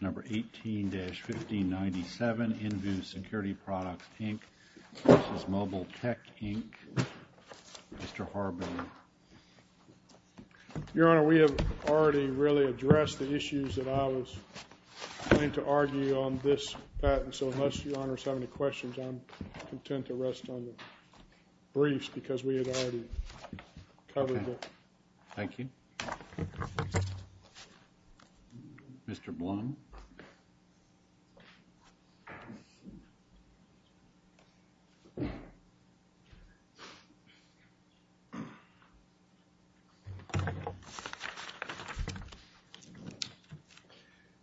Number 18-1597, InVue Security Products, Inc. v. Mobile Tech, Inc. Mr. Harbin. Your Honor, we have already really addressed the issues that I was going to argue on this patent, so unless Your Honor has any questions, I'm content to rest on the briefs because we have already covered it. Thank you. Mr. Blum.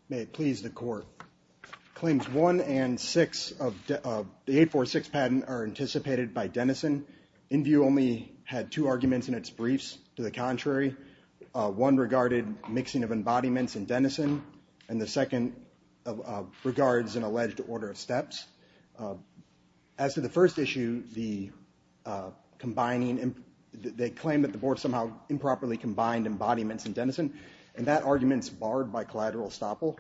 May it please the Court. Claims 1 and 6 of the 846 patent are anticipated by Denison. InVue only had two arguments in its briefs to the contrary. One regarded mixing of embodiments in Denison, and the second regards an alleged order of steps. As to the first issue, they claim that the Board somehow improperly combined embodiments in Denison, and that argument is barred by collateral estoppel.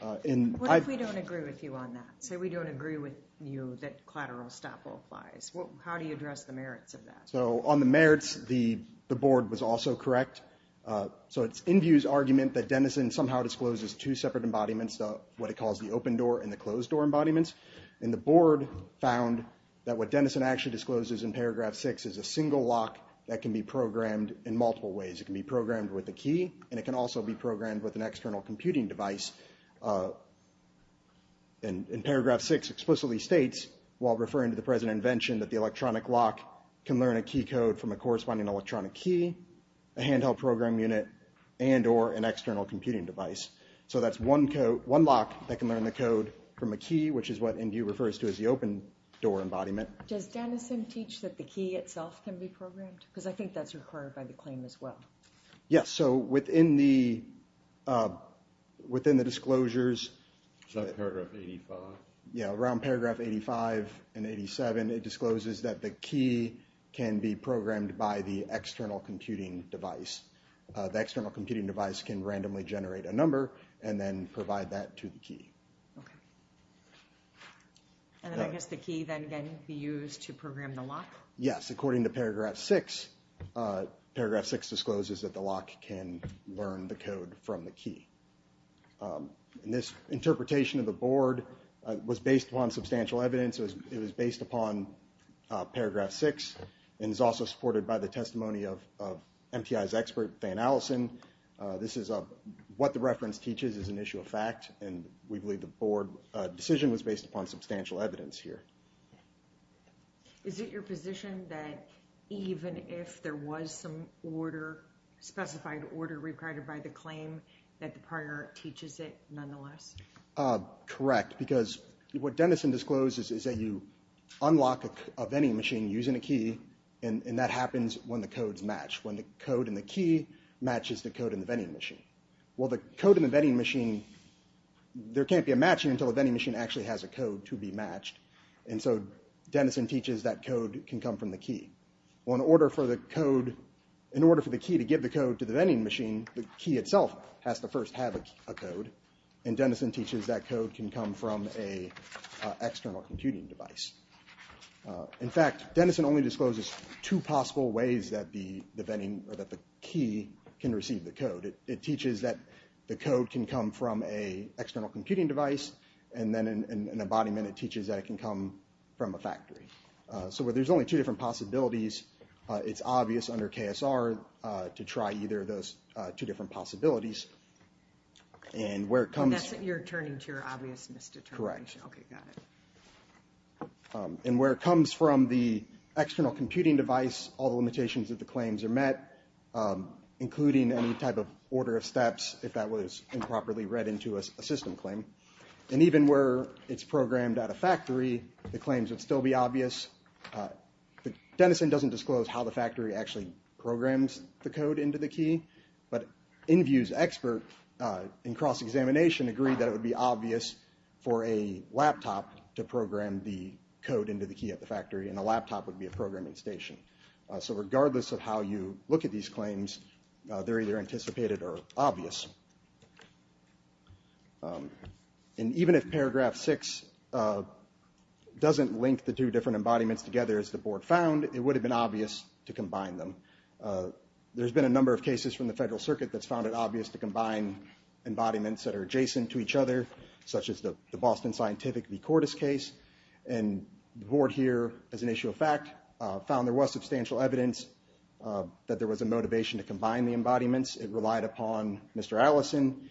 What if we don't agree with you on that? Say we don't agree with you that collateral estoppel applies. How do you address the merits of that? So on the merits, the Board was also correct. So it's InVue's argument that Denison somehow discloses two separate embodiments, what it calls the open door and the closed door embodiments, and the Board found that what Denison actually discloses in paragraph 6 is a single lock that can be programmed in multiple ways. It can be programmed with a key, and it can also be programmed with an external computing device. And paragraph 6 explicitly states, while referring to the present invention, that the electronic lock can learn a key code from a corresponding electronic key, a handheld program unit, and or an external computing device. So that's one lock that can learn the code from a key, which is what InVue refers to as the open door embodiment. Does Denison teach that the key itself can be programmed? Because I think that's required by the claim as well. Yes, so within the disclosures. Is that paragraph 85? Yeah, around paragraph 85 and 87, it discloses that the key can be programmed by the external computing device. The external computing device can randomly generate a number and then provide that to the key. Okay. And then I guess the key then can be used to program the lock? Yes, according to paragraph 6, paragraph 6 discloses that the lock can learn the code from the key. And this interpretation of the board was based upon substantial evidence. It was based upon paragraph 6 and is also supported by the testimony of MTI's expert, Dan Allison. This is what the reference teaches is an issue of fact. And we believe the board decision was based upon substantial evidence here. Is it your position that even if there was some order, specified order required by the claim, that the prior teaches it nonetheless? Correct, because what Denison discloses is that you unlock a vending machine using a key, and that happens when the codes match. When the code and the key matches the code in the vending machine. Well, the code in the vending machine, there can't be a matching until the vending machine actually has a code to be matched. And so Denison teaches that code can come from the key. Well, in order for the code, in order for the key to give the code to the vending machine, the key itself has to first have a code. And Denison teaches that code can come from an external computing device. In fact, Denison only discloses two possible ways that the key can receive the code. It teaches that the code can come from a external computing device. And then in embodiment, it teaches that it can come from a factory. So where there's only two different possibilities, it's obvious under KSR to try either of those two different possibilities. And where it comes. You're turning to your obvious misdetermination. Correct. Okay, got it. And where it comes from the external computing device, all the limitations of the claims are met, including any type of order of steps, if that was improperly read into a system claim. And even where it's programmed at a factory, the claims would still be obvious. Denison doesn't disclose how the factory actually programs the code into the key. But Inview's expert in cross-examination agreed that it would be obvious for a laptop to program the code into the key at the factory, and a laptop would be a programming station. So regardless of how you look at these claims, they're either anticipated or obvious. And even if paragraph six doesn't link the two different embodiments together as the board found, it would have been obvious to combine them. There's been a number of cases from the federal circuit that's found it obvious to combine embodiments that are adjacent to each other, such as the Boston Scientific v. Cordis case. And the board here, as an issue of fact, found there was substantial evidence that there was a motivation to combine the embodiments. It relied upon Mr. Allison.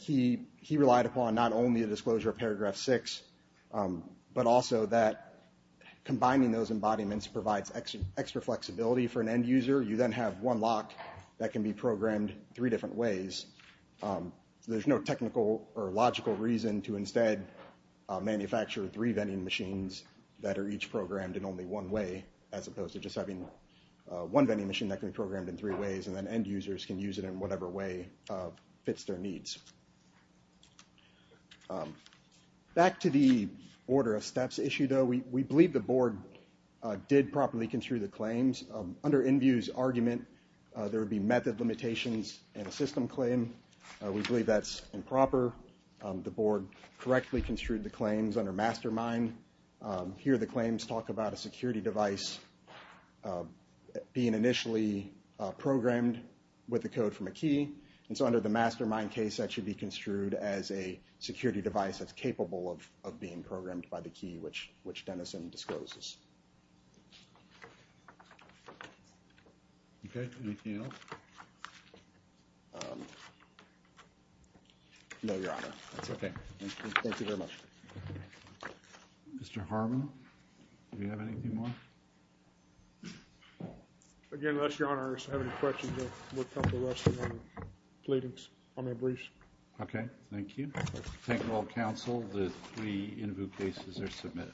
He relied upon not only the disclosure of paragraph six, but also that combining those embodiments provides extra flexibility for an end user. You then have one lock that can be programmed three different ways. There's no technical or logical reason to instead manufacture three vending machines that are each programmed in only one way, as opposed to just having one vending machine that can be programmed in three ways, and then end users can use it in whatever way fits their needs. Back to the order of steps issue, though. We believe the board did properly construe the claims. Under Inview's argument, there would be method limitations in a system claim. We believe that's improper. The board correctly construed the claims under mastermind. Here, the claims talk about a security device being initially programmed with a code from a key. And so under the mastermind case, that should be construed as a security device that's capable of being programmed by the key, which Denison discloses. Okay. Anything else? No, Your Honor. That's okay. Thank you very much. Mr. Harmon, do we have anything more? Again, unless Your Honor has any questions, I will come to the rest of my pleadings on their briefs. Okay. Thank you. Thank you all, counsel. The three Inview cases are submitted.